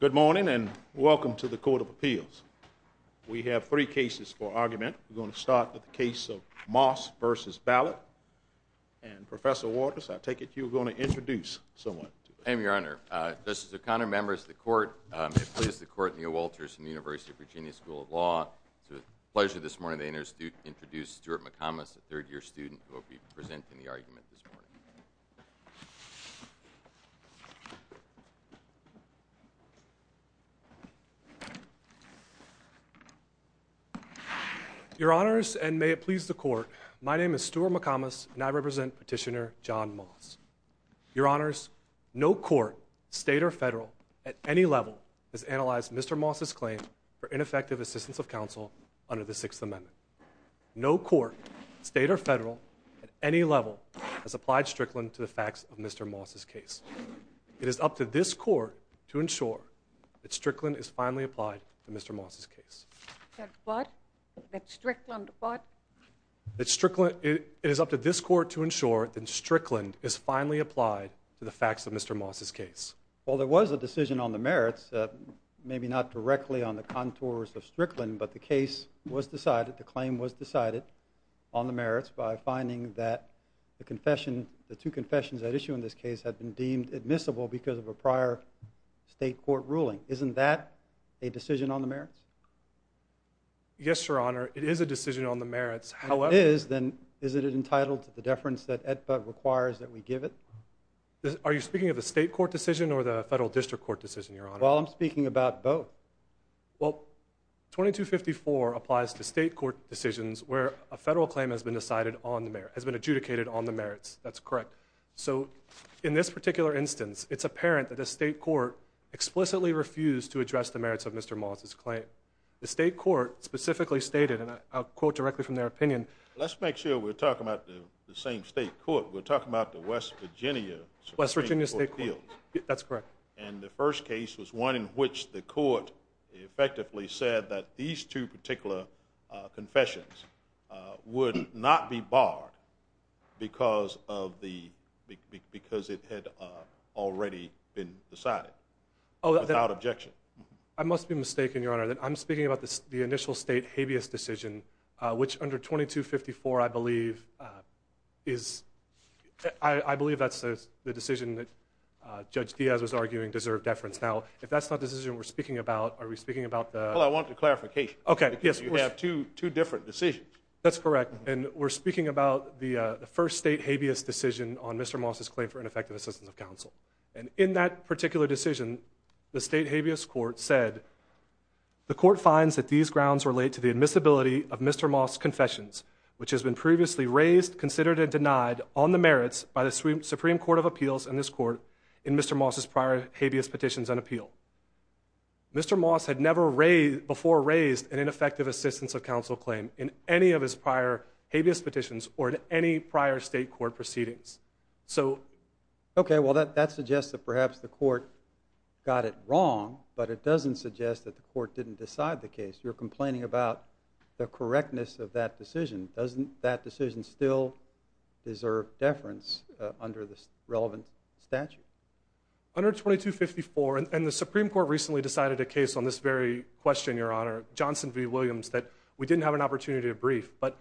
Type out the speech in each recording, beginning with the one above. Good morning, and welcome to the Court of Appeals. We have three cases for argument. We're going to start with the case of Moss v. Ballard. And, Professor Walters, I take it you're going to introduce someone. I am, Your Honor. Justice O'Connor, members of the Court, I'm pleased to court Neil Walters from the University of Virginia School of Law. It's a pleasure this morning to introduce Stuart McComas, a third-year student who will be presenting the argument this morning. Your Honors, and may it please the Court, my name is Stuart McComas, and I represent Petitioner John Moss. Your Honors, no court, state or federal, at any level, has analyzed Mr. Moss's claim for ineffective assistance of counsel under the Sixth Amendment. No court, state or federal, at any level, has applied Strickland to the facts of Mr. Moss's case. It is up to this Court to ensure that Strickland is finally applied to Mr. Moss's case. That what? That Strickland what? It is up to this Court to ensure that Strickland is finally applied to the facts of Mr. Moss's case. Well, there was a decision on the merits, maybe not directly on the contours of Strickland, but the case was decided, the claim was decided on the merits by finding that the confession, the two confessions at issue in this case had been deemed admissible because of a prior state court ruling. Isn't that a decision on the merits? Yes, Your Honor, it is a decision on the merits, however... If it is, then isn't it entitled to the deference that AEDPA requires that we give it? Are you speaking of the state court decision or the federal district court decision, Your Honor? Well, I'm speaking about both. Well, 2254 applies to state court decisions where a federal claim has been decided on the merits, has been adjudicated on the merits. That's correct. So, in this particular instance, it's apparent that the state court explicitly refused to address the merits of Mr. Moss's claim. The state court specifically stated, and I'll quote directly from their opinion... Let's make sure we're talking about the same state court. We're talking about the West Virginia Supreme Court Appeals. West Virginia State Court. That's correct. And the first case was one in which the court effectively said that these two particular confessions would not be barred because it had already been decided without objection. I must be mistaken, Your Honor. I'm speaking about the initial state habeas decision, which under 2254, I believe, is... I believe that's the decision that Judge Diaz was arguing deserved deference. Now, if that's not the decision we're speaking about, are we speaking about the... Well, I want the clarification because you have two different decisions. That's correct. And we're speaking about the first state habeas decision on Mr. Moss's claim for ineffective assistance of counsel. And in that particular decision, the state habeas court said, The court finds that these grounds relate to the admissibility of Mr. Moss's confessions, which has been previously raised, considered, and denied on the merits by the Supreme Court of Appeals and this court in Mr. Moss's prior habeas petitions and appeal. Mr. Moss had never before raised an ineffective assistance of counsel claim in any of his prior habeas petitions or in any prior state court proceedings. So... Okay, well, that suggests that perhaps the court got it wrong, but it doesn't suggest that the court didn't decide the case. You're complaining about the correctness of that decision. Doesn't that decision still deserve deference under the relevant statute? Under 2254... And the Supreme Court recently decided a case on this very question, Your Honor, Johnson v. Williams, that we didn't have an opportunity to brief. But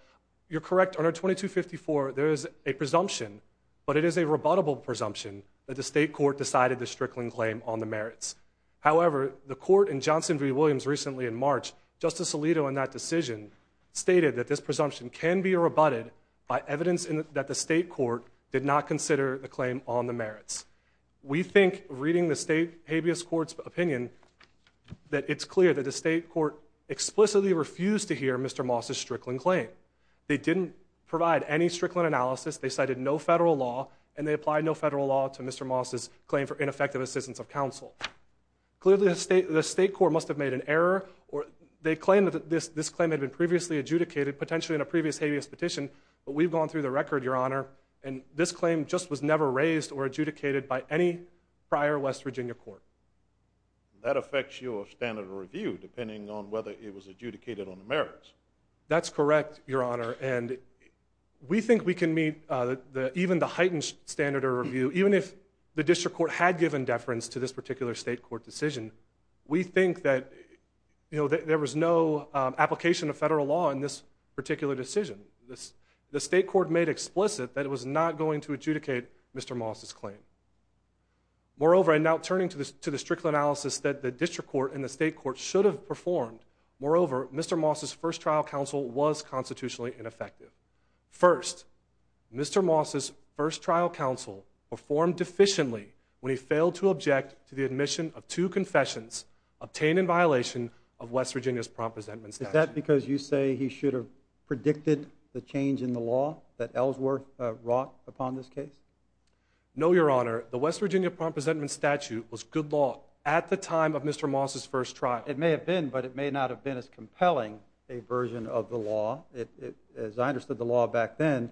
you're correct. Under 2254, there is a presumption, but it is a rebuttable presumption, that the state court decided the Strickland claim on the merits. However, the court in Johnson v. Williams recently in March, Justice Alito, in that decision, stated that this presumption can be rebutted by evidence that the state court did not consider the claim on the merits. We think, reading the state habeas court's opinion, that it's clear that the state court explicitly refused to hear Mr. Moss's Strickland claim. They didn't provide any Strickland analysis. They cited no federal law, and they applied no federal law to Mr. Moss's claim for ineffective assistance of counsel. Clearly, the state court must have made an error. They claimed that this claim had been previously adjudicated, potentially in a previous habeas petition. But we've gone through the record, Your Honor, and this claim just was never raised or adjudicated by any prior West Virginia court. That affects your standard of review, depending on whether it was adjudicated on the merits. That's correct, Your Honor. We think we can meet even the heightened standard of review, even if the district court had given deference to this particular state court decision. We think that there was no application of federal law in this particular decision. The state court made explicit that it was not going to adjudicate Mr. Moss's claim. Moreover, and now turning to the Strickland analysis that the district court and the state court should have performed, moreover, Mr. Moss's first trial counsel was constitutionally ineffective. First, Mr. Moss's first trial counsel performed deficiently when he failed to object to the admission of two confessions obtained in violation of West Virginia's prompt resentment statute. Is that because you say he should have predicted the change in the law that Ellsworth wrought upon this case? No, Your Honor. The West Virginia prompt resentment statute was good law at the time of Mr. Moss's first trial. It may have been, but it may not have been as compelling a version of the law. As I understood the law back then,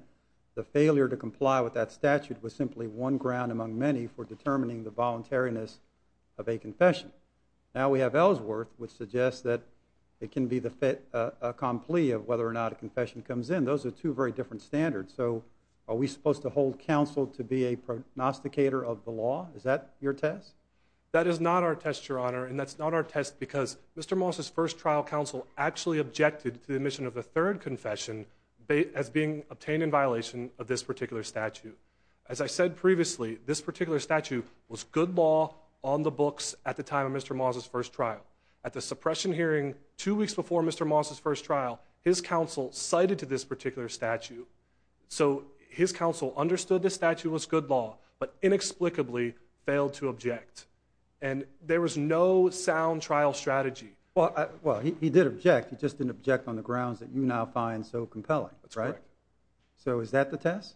the failure to comply with that statute was simply one ground among many for determining the voluntariness of a confession. Now we have Ellsworth, which suggests that it can be the fait accompli of whether or not a confession comes in. Those are two very different standards. So are we supposed to hold counsel to be a pronosticator of the law? Is that your test? That is not our test, Your Honor, and that's not our test because Mr. Moss's first trial counsel actually objected to the admission of a third confession as being obtained in violation of this particular statute. As I said previously, this particular statute was good law on the books at the time of Mr. Moss's first trial. At the suppression hearing two weeks before Mr. Moss's first trial, his counsel cited to this particular statute. So his counsel understood this statute was good law, but inexplicably failed to object, and there was no sound trial strategy. Well, he did object. He just didn't object on the grounds that you now find so compelling, right? That's correct. So is that the test?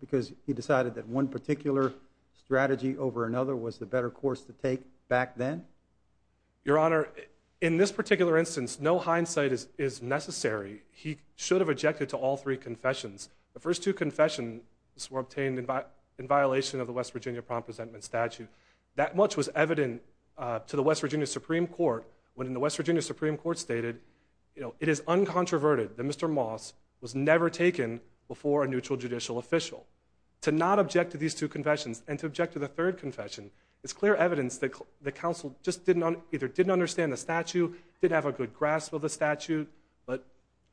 Because he decided that one particular strategy over another was the better course to take back then? Your Honor, in this particular instance, no hindsight is necessary. He should have objected to all three confessions. The first two confessions were obtained in violation of the West Virginia Prompt Presentment Statute. That much was evident to the West Virginia Supreme Court when the West Virginia Supreme Court stated, you know, it is uncontroverted that Mr. Moss was never taken before a neutral judicial official. To not object to these two confessions and to object to the third confession is clear evidence that the counsel just either didn't understand the statute, didn't have a good grasp of the statute, but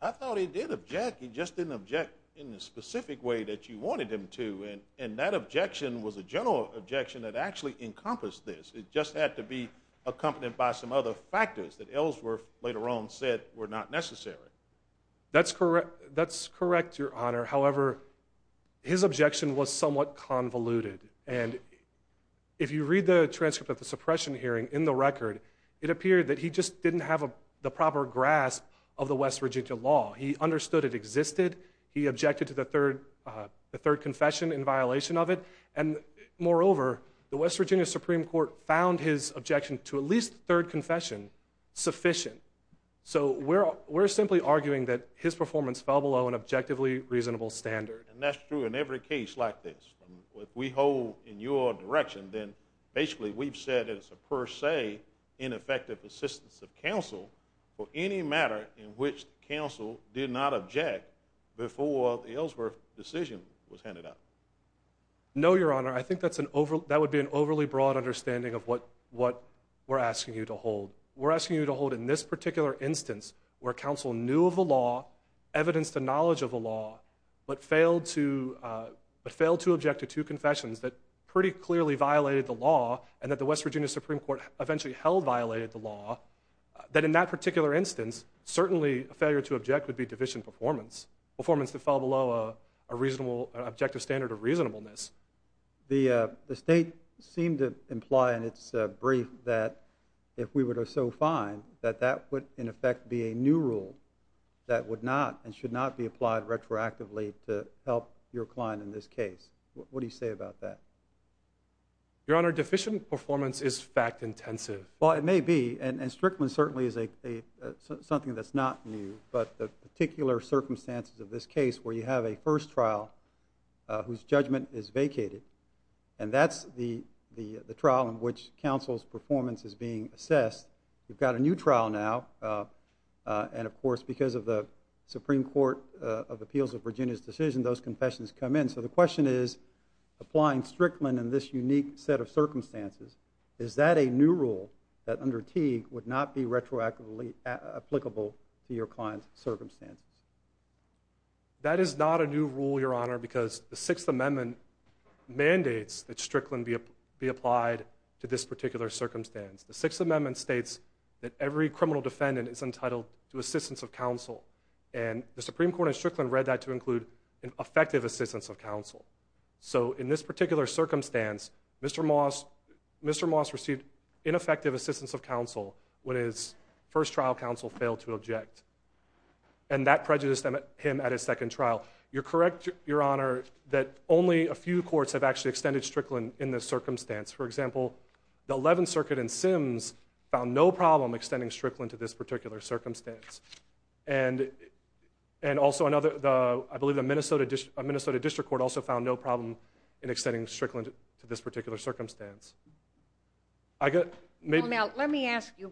I thought he did object. He just didn't object in the specific way that you wanted him to, and that objection was a general objection that actually encompassed this. It just had to be accompanied by some other factors that Ellsworth later on said were not necessary. That's correct, Your Honor. However, his objection was somewhat convoluted, and if you read the transcript of the suppression hearing in the record, it appeared that he just didn't have the proper grasp of the West Virginia law. He understood it existed. He objected to the third confession in violation of it, and moreover, the West Virginia Supreme Court found his objection to at least the third confession sufficient. So we're simply arguing that his performance fell below an objectively reasonable standard. And that's true in every case like this. If we hold in your direction, then basically we've said it's a per se ineffective assistance of counsel for any matter in which counsel did not object before the Ellsworth decision was handed out. No, Your Honor. I think that would be an overly broad understanding of what we're asking you to hold. We're asking you to hold in this particular instance where counsel knew of the law, evidenced the knowledge of the law, but failed to object to two confessions that pretty clearly violated the law and that the West Virginia Supreme Court eventually held violated the law, that in that particular instance certainly a failure to object would be division performance, performance that fell below an objective standard of reasonableness. The State seemed to imply in its brief that if we were to so find that that would in effect be a new rule that would not and should not be applied retroactively to help your client in this case. What do you say about that? Your Honor, deficient performance is fact intensive. Well, it may be. And Strickland certainly is something that's not new. But the particular circumstances of this case where you have a first trial whose judgment is vacated, and that's the trial in which counsel's performance is being assessed, you've got a new trial now, and of course because of the Supreme Court of Appeals of Virginia's decision, those confessions come in. So the question is applying Strickland in this unique set of circumstances, is that a new rule that under Teague would not be retroactively applicable to your client's circumstances? That is not a new rule, Your Honor, because the Sixth Amendment mandates that Strickland be applied to this particular circumstance. The Sixth Amendment states that every criminal defendant is entitled to assistance of counsel, and the Supreme Court in Strickland read that to include an effective assistance of counsel. So in this particular circumstance, Mr. Moss received ineffective assistance of counsel when his first trial counsel failed to object, and that prejudiced him at his second trial. You're correct, Your Honor, that only a few courts have actually extended Strickland in this circumstance. For example, the Eleventh Circuit in Sims found no problem extending Strickland to this particular circumstance, and also I believe the Minnesota District Court also found no problem in extending Strickland to this particular circumstance. Well, now let me ask you,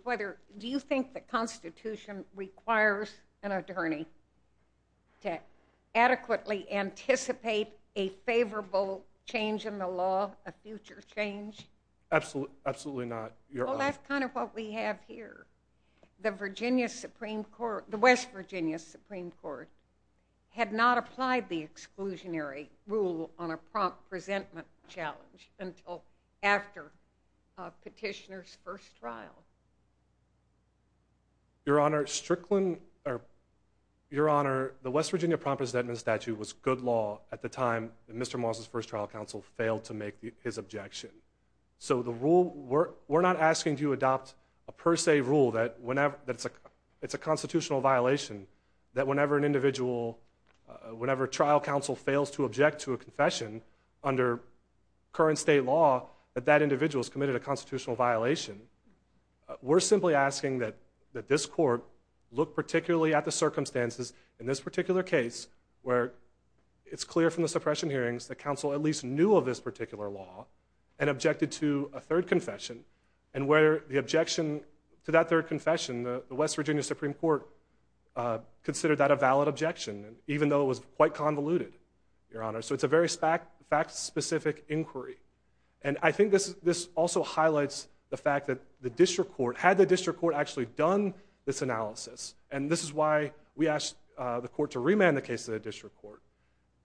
do you think the Constitution requires an attorney to adequately anticipate a favorable change in the law, a future change? Absolutely not, Your Honor. Well, that's kind of what we have here. The West Virginia Supreme Court had not applied the exclusionary rule on a prompt presentment challenge until after a petitioner's first trial. Your Honor, the West Virginia prompt presentment statute was good law at the time that Mr. Moss's first trial counsel failed to make his objection. So we're not asking you to adopt a per se rule that it's a constitutional violation, that whenever a trial counsel fails to object to a confession under current state law, that that individual has committed a constitutional violation. We're simply asking that this court look particularly at the circumstances in this particular case where it's clear from the suppression hearings that counsel at least knew of this particular law and objected to a third confession, and where the objection to that third confession, the West Virginia Supreme Court considered that a valid objection, even though it was quite convoluted, Your Honor. So it's a very fact-specific inquiry. And I think this also highlights the fact that the district court, had the district court actually done this analysis, and this is why we asked the court to remand the case to the district court,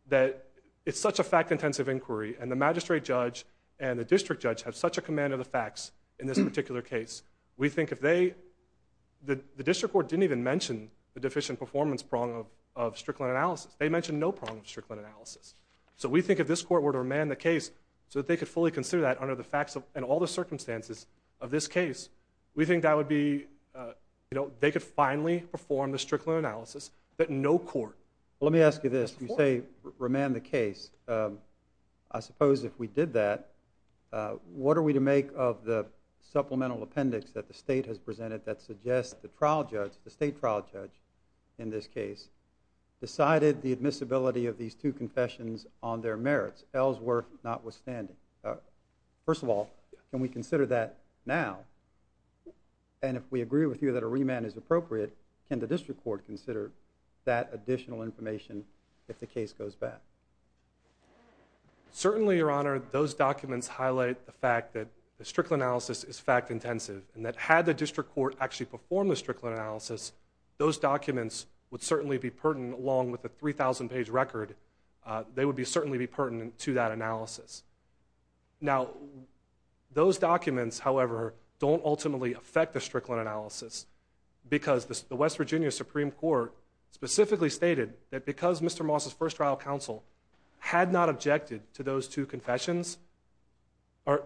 that it's such a fact-intensive inquiry, and the magistrate judge and the district judge have such a command of the facts in this particular case, we think if they, the district court didn't even mention the deficient performance prong of Strickland analysis. They mentioned no prong of Strickland analysis. So we think if this court were to remand the case so that they could fully consider that under the facts and all the circumstances of this case, we think that would be, you know, they could finally perform the Strickland analysis, but no court. Let me ask you this. If you say remand the case, I suppose if we did that, what are we to make of the supplemental appendix that the state has presented that suggests the trial judge, the state trial judge in this case, decided the admissibility of these two confessions on their merits, Ellsworth notwithstanding? First of all, can we consider that now? And if we agree with you that a remand is appropriate, can the district court consider that additional information if the case goes back? Certainly, Your Honor, those documents highlight the fact that the Strickland analysis is fact-intensive, and that had the district court actually performed the Strickland analysis, those documents would certainly be pertinent along with the 3,000-page record. They would certainly be pertinent to that analysis. Now, those documents, however, don't ultimately affect the Strickland analysis because the West Virginia Supreme Court specifically stated that because Mr. Moss' first trial counsel had not objected to those two confessions, those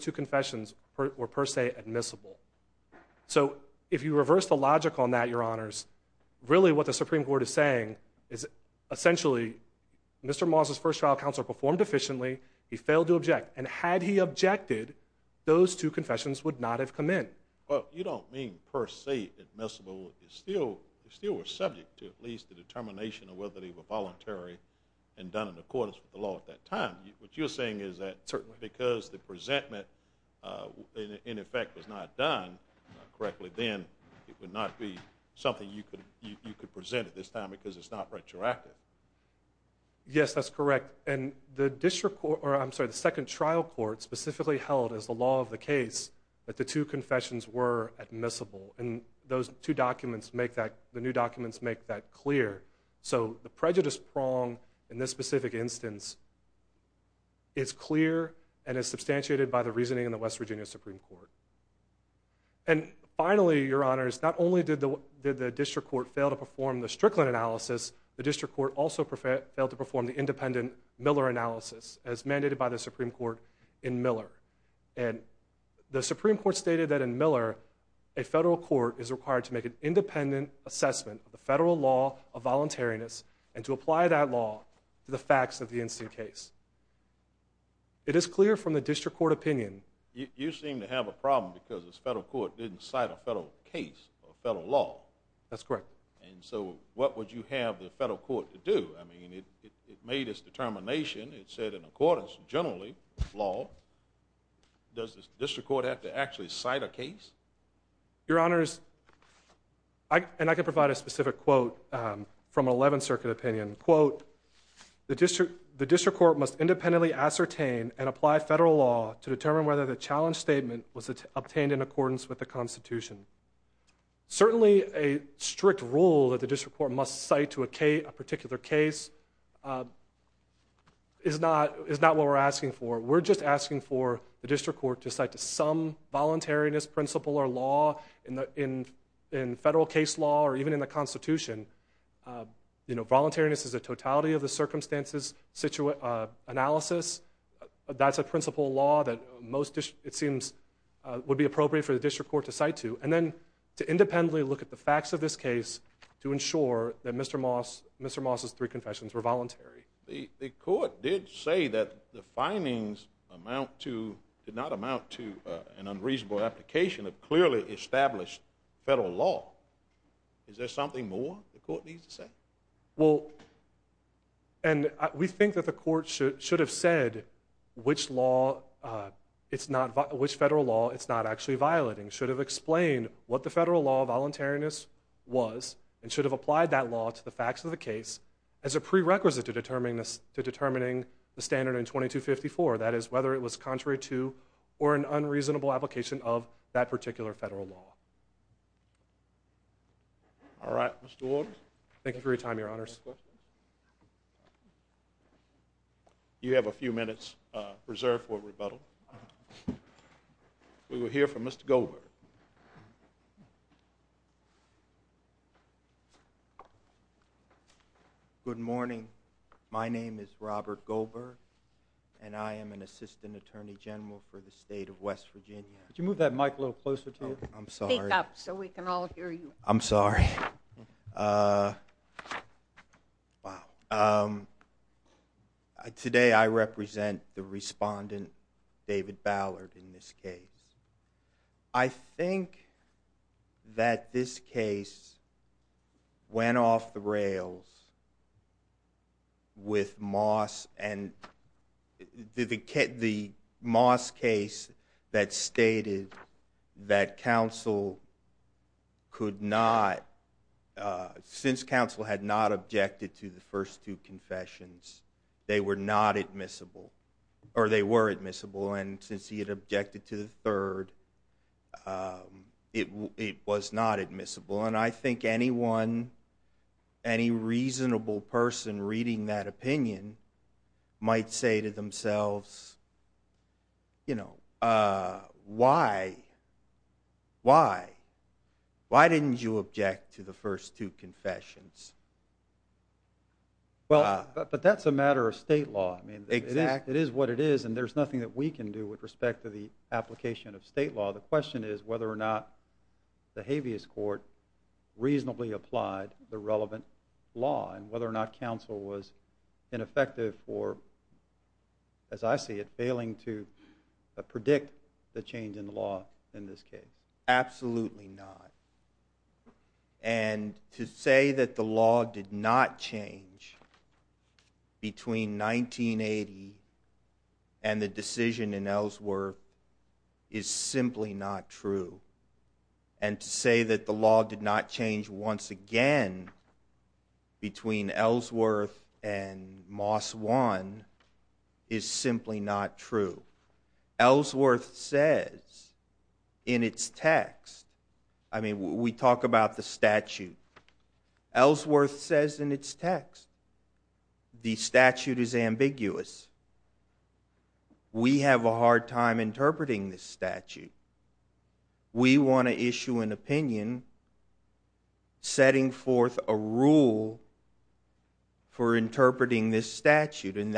two confessions were per se admissible. So if you reverse the logic on that, Your Honors, really what the Supreme Court is saying is essentially Mr. Moss' first trial counsel performed efficiently, he failed to object, and had he objected, those two confessions would not have come in. Well, you don't mean per se admissible. They still were subject to at least a determination of whether they were voluntary and done in accordance with the law at that time. What you're saying is that because the presentment, in effect, was not done correctly, then it would not be something you could present at this time because it's not retroactive. Yes, that's correct. The second trial court specifically held as the law of the case that the two confessions were admissible, and the new documents make that clear. So the prejudice prong in this specific instance is clear and is substantiated by the reasoning in the West Virginia Supreme Court. Finally, Your Honors, not only did the district court fail to perform the Strickland analysis, the district court also failed to perform the independent Miller analysis as mandated by the Supreme Court in Miller. And the Supreme Court stated that in Miller, a federal court is required to make an independent assessment of the federal law of voluntariness and to apply that law to the facts of the incident case. It is clear from the district court opinion— You seem to have a problem because this federal court didn't cite a federal case or a federal law. That's correct. And so what would you have the federal court to do? I mean, it made its determination. It said in accordance, generally, with law. Does the district court have to actually cite a case? Your Honors, and I can provide a specific quote from an 11th Circuit opinion. Quote, The district court must independently ascertain and apply federal law to determine whether the challenge statement was obtained in accordance with the Constitution. Certainly a strict rule that the district court must cite to a particular case is not what we're asking for. We're just asking for the district court to cite to some voluntariness principle or law in federal case law or even in the Constitution. Voluntariness is a totality of the circumstances analysis. That's a principle law that most, it seems, would be appropriate for the district court to cite to. And then to independently look at the facts of this case to ensure that Mr. Moss' three confessions were voluntary. The court did say that the findings did not amount to an unreasonable application of clearly established federal law. Is there something more the court needs to say? Well, and we think that the court should have said which law, which federal law it's not actually violating. Should have explained what the federal law of voluntariness was and should have applied that law to the facts of the case as a prerequisite to determining the standard in 2254. That is, whether it was contrary to or an unreasonable application of that particular federal law. All right, Mr. Waters. Thank you for your time, Your Honors. You have a few minutes reserved for rebuttal. We will hear from Mr. Goldberg. Good morning. My name is Robert Goldberg, and I am an assistant attorney general for the state of West Virginia. Could you move that mic a little closer to you? I'm sorry. Speak up so we can all hear you. I'm sorry. Wow. Today I represent the respondent, David Ballard, in this case. I think that this case went off the rails with Moss and the Moss case that stated that counsel could not, since counsel had not objected to the first two confessions, they were not admissible, or they were admissible, and since he had objected to the third, it was not admissible. And I think anyone, any reasonable person reading that opinion, might say to themselves, you know, why, why, why didn't you object to the first two confessions? Well, but that's a matter of state law. I mean, it is what it is, and there's nothing that we can do with respect to the application of state law. The question is whether or not the habeas court reasonably applied the relevant law and whether or not counsel was ineffective or, as I see it, failing to predict the change in the law in this case. Absolutely not. And to say that the law did not change between 1980 and the decision in Ellsworth is simply not true. And to say that the law did not change once again between Ellsworth and Moss 1 is simply not true. Ellsworth says in its text, I mean, we talk about the statute, Ellsworth says in its text, the statute is ambiguous. We have a hard time interpreting this statute. We want to issue an opinion setting forth a rule for interpreting this statute. And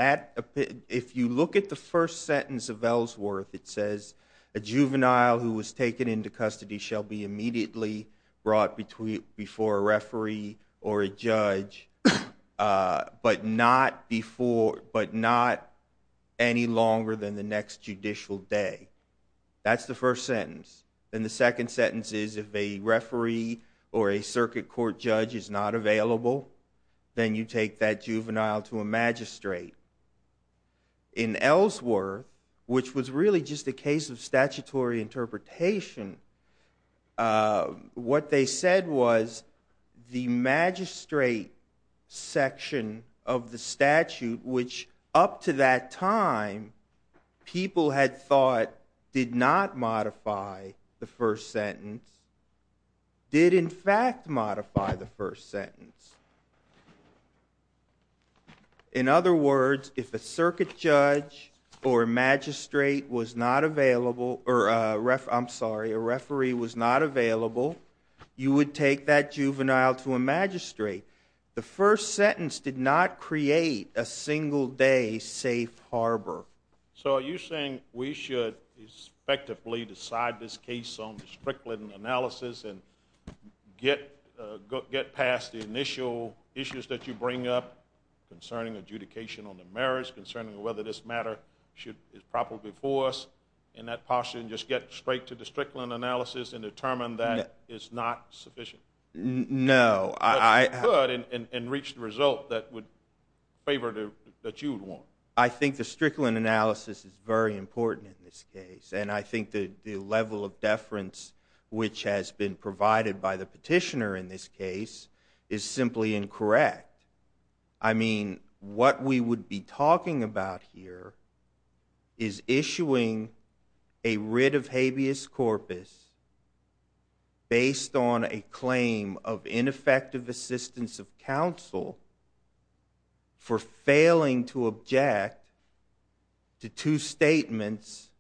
if you look at the first sentence of Ellsworth, it says, a juvenile who was taken into custody shall be immediately brought before a referee or a judge, but not any longer than the next judicial day. That's the first sentence. And the second sentence is if a referee or a circuit court judge is not available, then you take that juvenile to a magistrate. In Ellsworth, which was really just a case of statutory interpretation, what they said was the magistrate section of the statute, which up to that time people had thought did not modify the first sentence, in other words, if a circuit judge or a magistrate was not available, or I'm sorry, a referee was not available, you would take that juvenile to a magistrate. The first sentence did not create a single day safe harbor. So are you saying we should effectively decide this case on the Strickland analysis and get past the initial issues that you bring up concerning adjudication on the merits, concerning whether this matter is proper before us in that posture, and just get straight to the Strickland analysis and determine that it's not sufficient? No. But you could and reach the result that you would want. I think the Strickland analysis is very important in this case, and I think the level of deference which has been provided by the petitioner in this case is simply incorrect. I mean, what we would be talking about here is issuing a writ of habeas corpus based on a claim of ineffective assistance of counsel for failing to object to two statements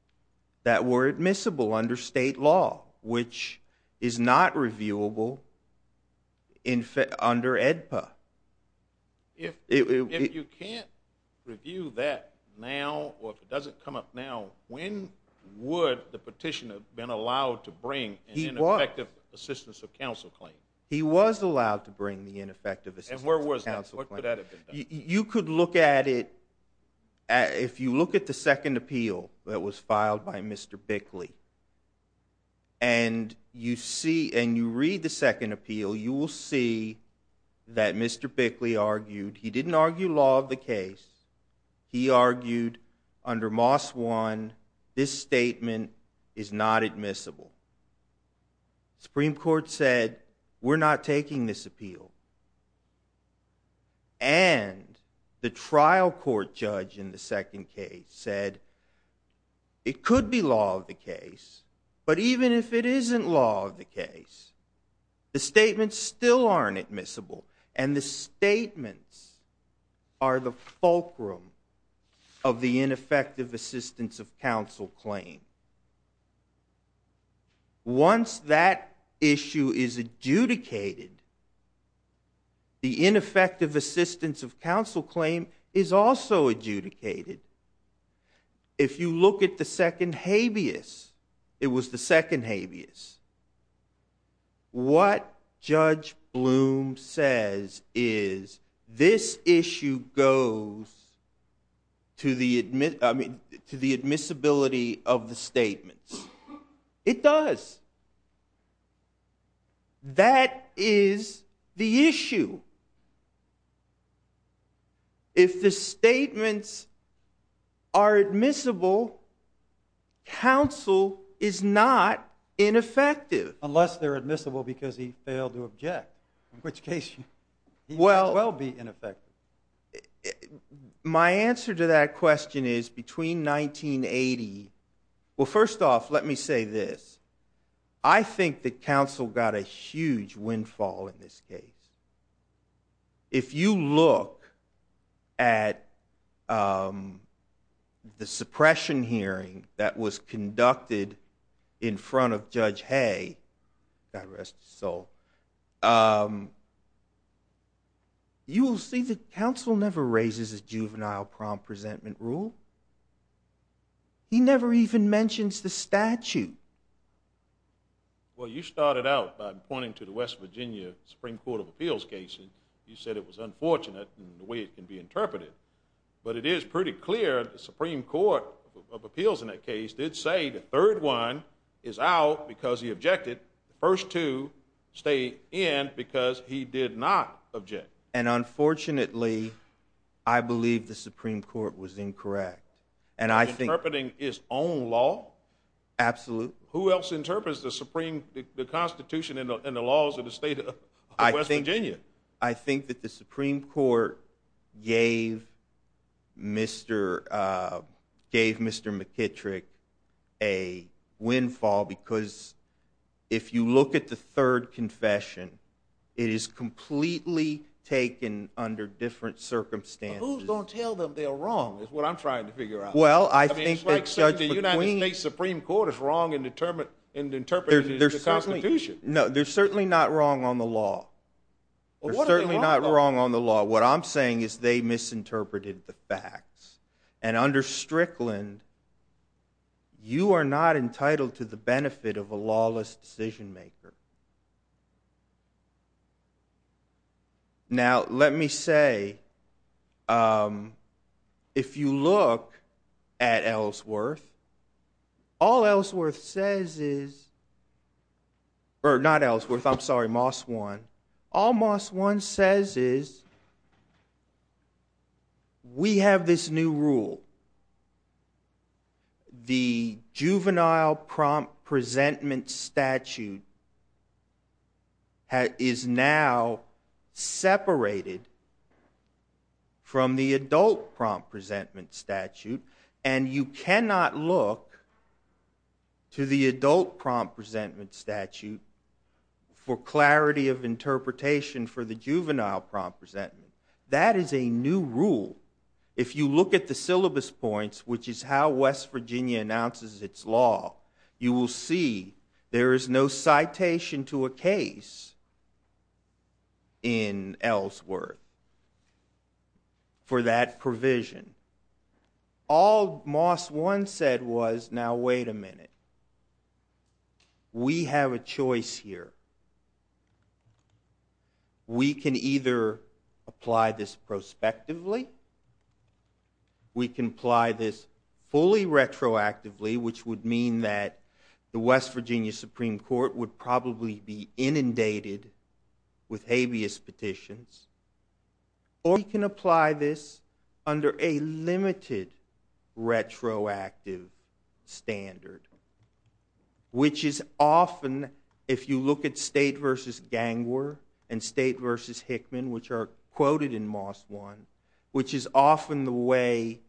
that were admissible under state law, which is not reviewable under AEDPA. If you can't review that now or if it doesn't come up now, when would the petitioner have been allowed to bring an ineffective assistance of counsel claim? He was allowed to bring the ineffective assistance. And where was that? What could that have been? You could look at it. If you look at the second appeal that was filed by Mr. Bickley, and you read the second appeal, you will see that Mr. Bickley argued. He didn't argue law of the case. He argued under Moss 1, this statement is not admissible. The Supreme Court said, we're not taking this appeal. And the trial court judge in the second case said, it could be law of the case, but even if it isn't law of the case, the statements still aren't admissible, and the statements are the fulcrum of the ineffective assistance of counsel claim. Once that issue is adjudicated, the ineffective assistance of counsel claim is also adjudicated. If you look at the second habeas, it was the second habeas. What Judge Bloom says is, this issue goes to the admissibility of the statements. It does. That is the issue. If the statements are admissible, counsel is not ineffective. Unless they're admissible because he failed to object. In which case, he may well be ineffective. My answer to that question is, between 1980... Well, first off, let me say this. I think that counsel got a huge windfall in this case. If you look at the suppression hearing that was conducted in front of Judge Hay, God rest his soul, you will see that counsel never raises a juvenile prom presentment rule. He never even mentions the statute. Well, you started out by pointing to the West Virginia Supreme Court of Appeals case. You said it was unfortunate in the way it can be interpreted. But it is pretty clear the Supreme Court of Appeals in that case did say the third one is out because he objected. The first two stay in because he did not object. And unfortunately, I believe the Supreme Court was incorrect. Interpreting his own law? Absolutely. Who else interprets the constitution and the laws of the state of West Virginia? I think that the Supreme Court gave Mr. McKittrick a windfall because if you look at the third confession, it is completely taken under different circumstances. But who's going to tell them they're wrong is what I'm trying to figure out. Well, I think that Judge McQueen... I mean, it's like the United States Supreme Court is wrong in interpreting the constitution. No, they're certainly not wrong on the law. They're certainly not wrong on the law. What I'm saying is they misinterpreted the facts. And under Strickland, you are not entitled to the benefit of a lawless decision-maker. Now, let me say, if you look at Ellsworth, all Ellsworth says is... Or not Ellsworth, I'm sorry, Moss One. All Moss One says is we have this new rule. The juvenile prompt-presentment statute is now separated from the adult prompt-presentment statute. And you cannot look to the adult prompt-presentment statute for clarity of interpretation for the juvenile prompt-presentment. That is a new rule. If you look at the syllabus points, which is how West Virginia announces its law, you will see there is no citation to a case in Ellsworth for that provision. All Moss One said was, now, wait a minute. We have a choice here. We can either apply this prospectively. We can apply this fully retroactively, which would mean that the West Virginia Supreme Court would probably be inundated with habeas petitions. Or we can apply this under a limited retroactive standard, which is often, if you look at State v. Gangwer and State v. Hickman, which are quoted in Moss One, which is often the way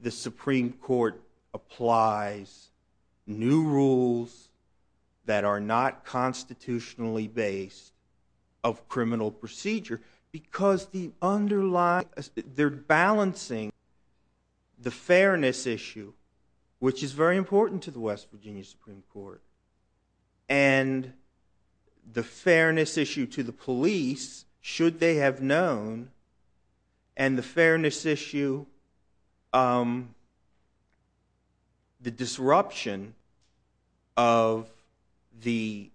the Supreme Court applies new rules that are not constitutionally based of criminal procedure, because they're balancing the fairness issue, which is very important to the West Virginia Supreme Court, and the fairness issue to the police, should they have known, and the fairness issue, the disruption of the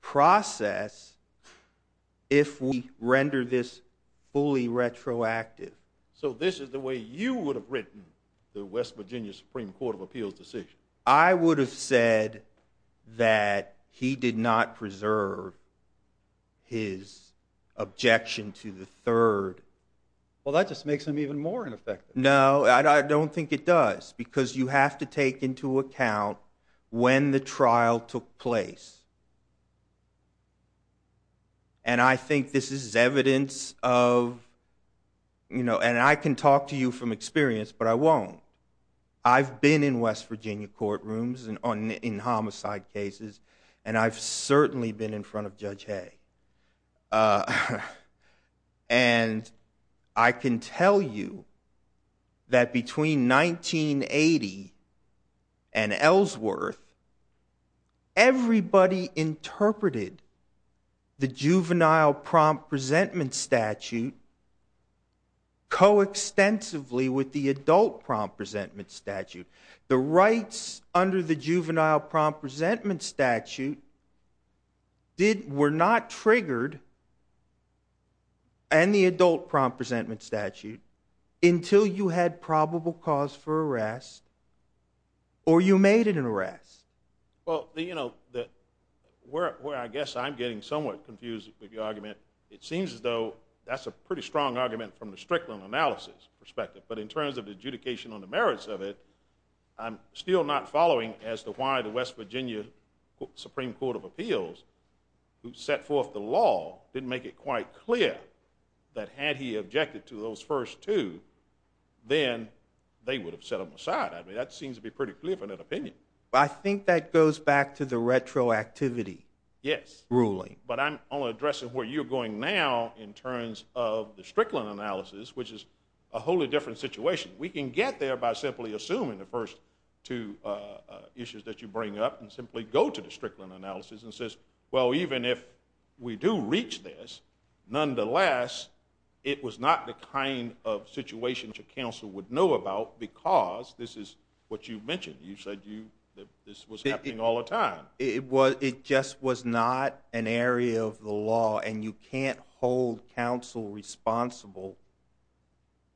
process, if we render this fully retroactive. So this is the way you would have written the West Virginia Supreme Court of Appeals decision? I would have said that he did not preserve his objection to the third. Well, that just makes him even more ineffective. No, I don't think it does, because you have to take into account when the trial took place. And I think this is evidence of, you know, and I can talk to you from experience, but I won't. I've been in West Virginia courtrooms in homicide cases, and I've certainly been in front of Judge Hay. And I can tell you that between 1980 and Ellsworth, everybody interpreted the juvenile prompt resentment statute co-extensively with the adult prompt resentment statute. The rights under the juvenile prompt resentment statute were not triggered, and the adult prompt resentment statute, until you had probable cause for arrest, or you made an arrest. Well, you know, where I guess I'm getting somewhat confused with your argument, it seems as though that's a pretty strong argument from the Strickland analysis perspective. But in terms of the adjudication on the merits of it, I'm still not following as to why the West Virginia Supreme Court of Appeals, who set forth the law, didn't make it quite clear that had he objected to those first two, then they would have set him aside. I mean, that seems to be pretty clear from that opinion. I think that goes back to the retroactivity ruling. But I'm only addressing where you're going now in terms of the Strickland analysis, which is a wholly different situation. We can get there by simply assuming the first two issues that you bring up and simply go to the Strickland analysis and says, well, even if we do reach this, nonetheless, it was not the kind of situation that your counsel would know about because this is what you mentioned. You said this was happening all the time. It just was not an area of the law, and you can't hold counsel responsible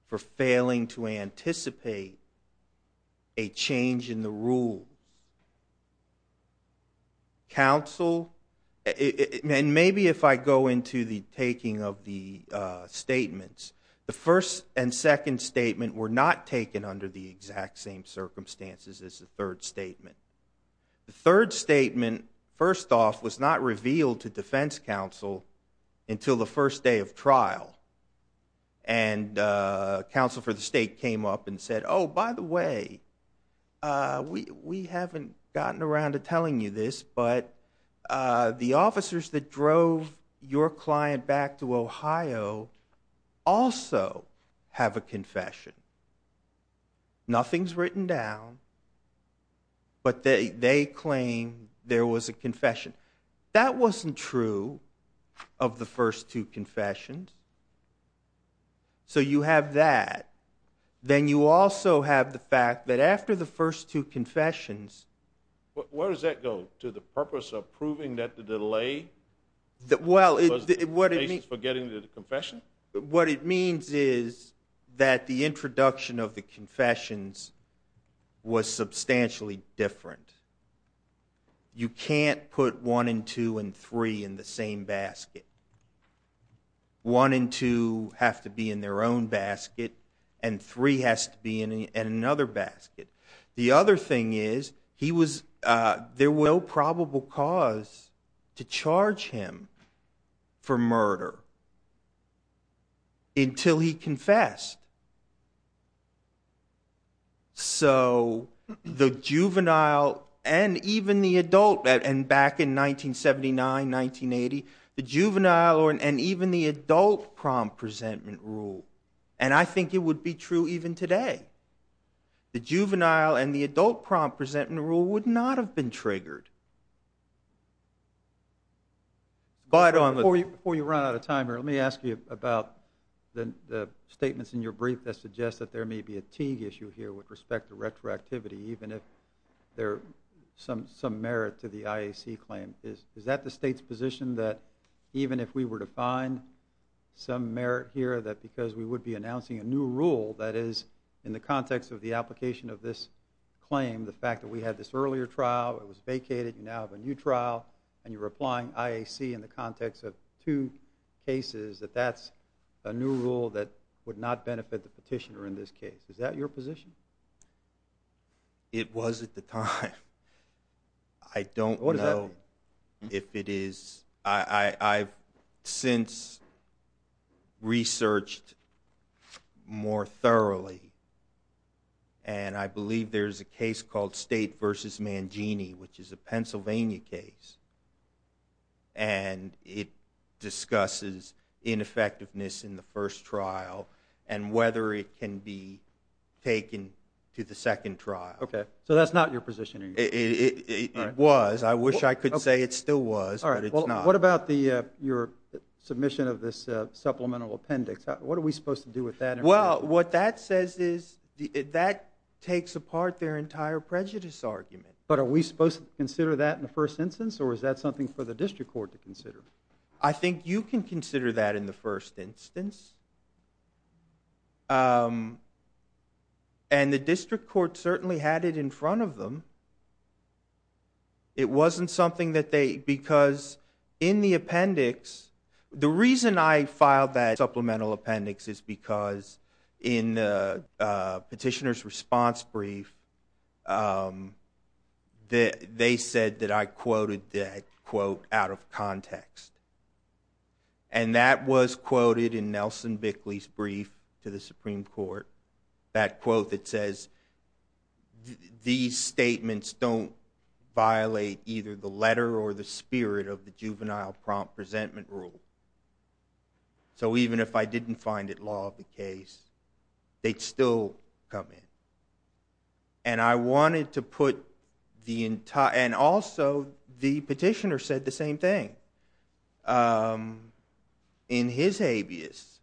for failing to anticipate a change in the rules. Counsel, and maybe if I go into the taking of the statements, the first and second statement were not taken under the exact same circumstances as the third statement. The third statement, first off, was not revealed to defense counsel until the first day of trial, and counsel for the state came up and said, oh, by the way, we haven't gotten around to telling you this, but the officers that drove your client back to Ohio also have a confession. Nothing is written down, but they claim there was a confession. That wasn't true of the first two confessions. So you have that. Then you also have the fact that after the first two confessions. Where does that go? To the purpose of proving that the delay was the basis for getting the confession? What it means is that the introduction of the confessions was substantially different. You can't put one and two and three in the same basket. One and two have to be in their own basket, and three has to be in another basket. The other thing is there was no probable cause to charge him for murder until he confessed. So the juvenile and even the adult, and back in 1979, 1980, the juvenile and even the adult prom presentment rule, and I think it would be true even today. The juvenile and the adult prom presentment rule would not have been triggered. Before you run out of time here, let me ask you about the statements in your brief that suggest that there may be a Teague issue here with respect to retroactivity, even if there's some merit to the IAC claim. Is that the state's position that even if we were to find some merit here, that because we would be announcing a new rule that is in the context of the application of this claim, the fact that we had this earlier trial, it was vacated, you now have a new trial, and you're applying IAC in the context of two cases, that that's a new rule that would not benefit the petitioner in this case? Is that your position? It was at the time. I don't know if it is. I've since researched more thoroughly, and I believe there's a case called State v. Mangini, which is a Pennsylvania case, and it discusses ineffectiveness in the first trial and whether it can be taken to the second trial. So that's not your position? It was. I wish I could say it still was, but it's not. All right, well, what about your submission of this supplemental appendix? What are we supposed to do with that? Well, what that says is that takes apart their entire prejudice argument. But are we supposed to consider that in the first instance, or is that something for the district court to consider? I think you can consider that in the first instance, and the district court certainly had it in front of them. It wasn't something that they – because in the appendix – the reason I filed that supplemental appendix is because in the petitioner's response brief, they said that I quoted that quote out of context, and that was quoted in Nelson Bickley's brief to the Supreme Court, that quote that says these statements don't violate either the letter or the spirit of the juvenile prompt resentment rule. So even if I didn't find it law of the case, they'd still come in. And I wanted to put the – and also the petitioner said the same thing in his habeas.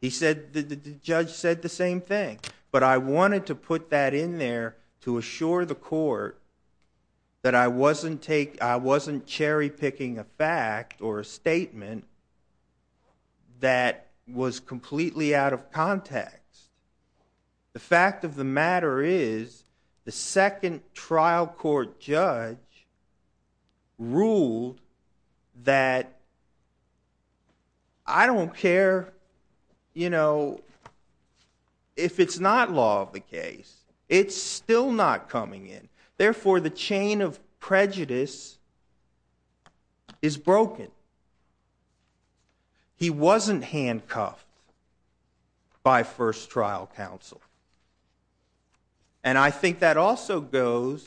He said – the judge said the same thing. But I wanted to put that in there to assure the court that I wasn't cherry-picking a fact or a statement that was completely out of context. The fact of the matter is the second trial court judge ruled that I don't care, you know, if it's not law of the case, it's still not coming in. Therefore, the chain of prejudice is broken. He wasn't handcuffed by first trial counsel. And I think that also goes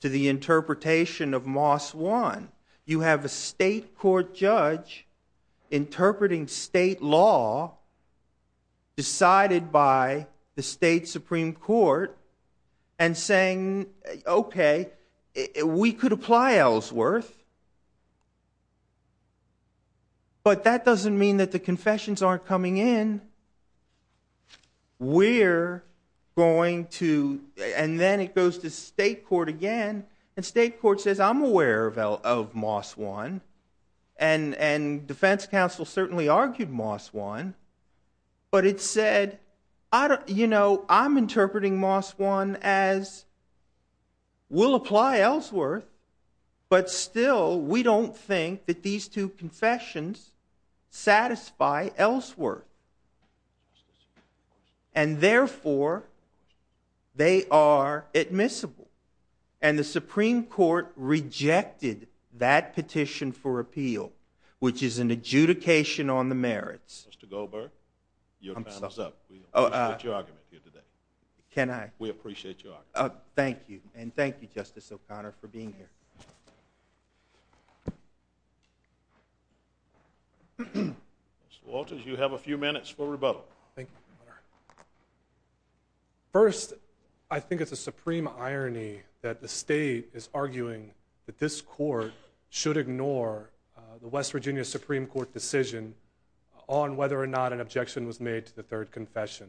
to the interpretation of Moss 1. You have a state court judge interpreting state law decided by the state Supreme Court and saying, okay, we could apply Ellsworth, but that doesn't mean that the confessions aren't coming in. We're going to – and then it goes to state court again, and state court says I'm aware of Moss 1, and defense counsel certainly argued Moss 1, but it said, you know, I'm interpreting Moss 1 as we'll apply Ellsworth, but still we don't think that these two confessions satisfy Ellsworth. And therefore, they are admissible. And the Supreme Court rejected that petition for appeal, which is an adjudication on the merits. Mr. Goldberg, your time is up. We appreciate your argument here today. Can I? We appreciate your argument. Thank you, and thank you, Justice O'Connor, for being here. Mr. Walters, you have a few minutes for rebuttal. First, I think it's a supreme irony that the state is arguing that this court should ignore the West Virginia Supreme Court decision on whether or not an objection was made to the third confession.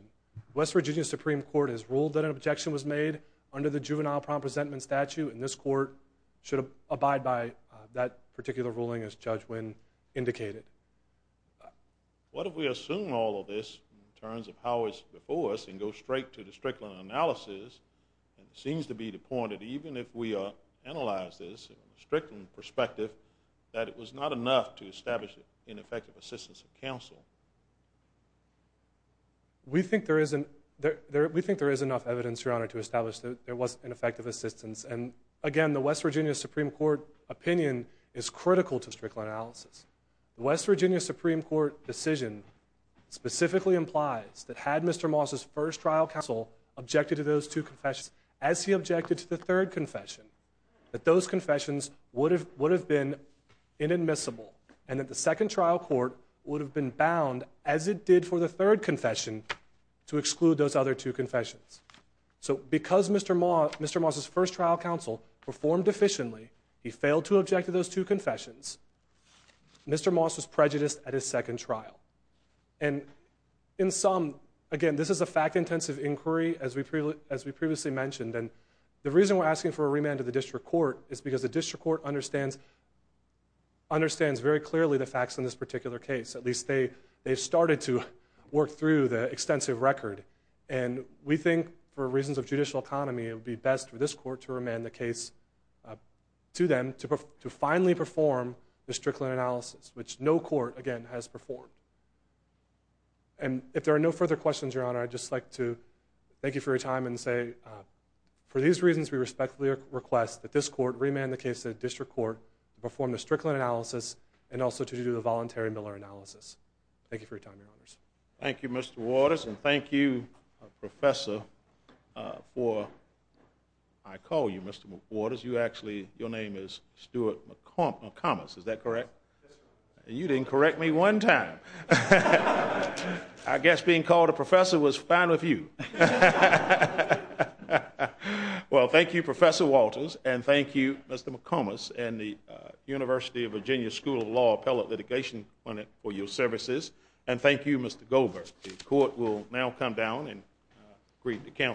The West Virginia Supreme Court has ruled that an objection was made under the juvenile presentment statute, and this court should abide by that particular ruling as Judge Wynn indicated. What if we assume all of this in terms of how it's before us and go straight to the Strickland analysis, and it seems to be the point that even if we analyze this in a Strickland perspective, that it was not enough to establish ineffective assistance of counsel? We think there is enough evidence, Your Honor, to establish that there was ineffective assistance. And, again, the West Virginia Supreme Court opinion is critical to Strickland analysis. The West Virginia Supreme Court decision specifically implies that had Mr. Moss's first trial counsel objected to those two confessions as he objected to the third confession, that those confessions would have been inadmissible and that the second trial court would have been bound, as it did for the third confession, to exclude those other two confessions. So because Mr. Moss's first trial counsel performed efficiently, he failed to object to those two confessions, Mr. Moss was prejudiced at his second trial. And in sum, again, this is a fact-intensive inquiry, as we previously mentioned, and the reason we're asking for a remand to the district court is because the district court understands very clearly the facts in this particular case. At least they've started to work through the extensive record. And we think, for reasons of judicial economy, it would be best for this court to remand the case to them to finally perform the Strickland analysis, which no court, again, has performed. And if there are no further questions, Your Honor, I'd just like to thank you for your time and say for these reasons we respectfully request that this court remand the case to the district court to perform the Strickland analysis and also to do the voluntary Miller analysis. Thank you for your time, Your Honors. Thank you, Mr. Waters, and thank you, Professor, for, I call you Mr. Waters, you actually, your name is Stuart McComas, is that correct? Yes, Your Honor. You didn't correct me one time. I guess being called a professor was fine with you. Well, thank you, Professor Waters, and thank you, Mr. McComas, and the University of Virginia School of Law Appellate Litigation Fund for your services, and thank you, Mr. Goldberg. The court will now come down and greet the counsel.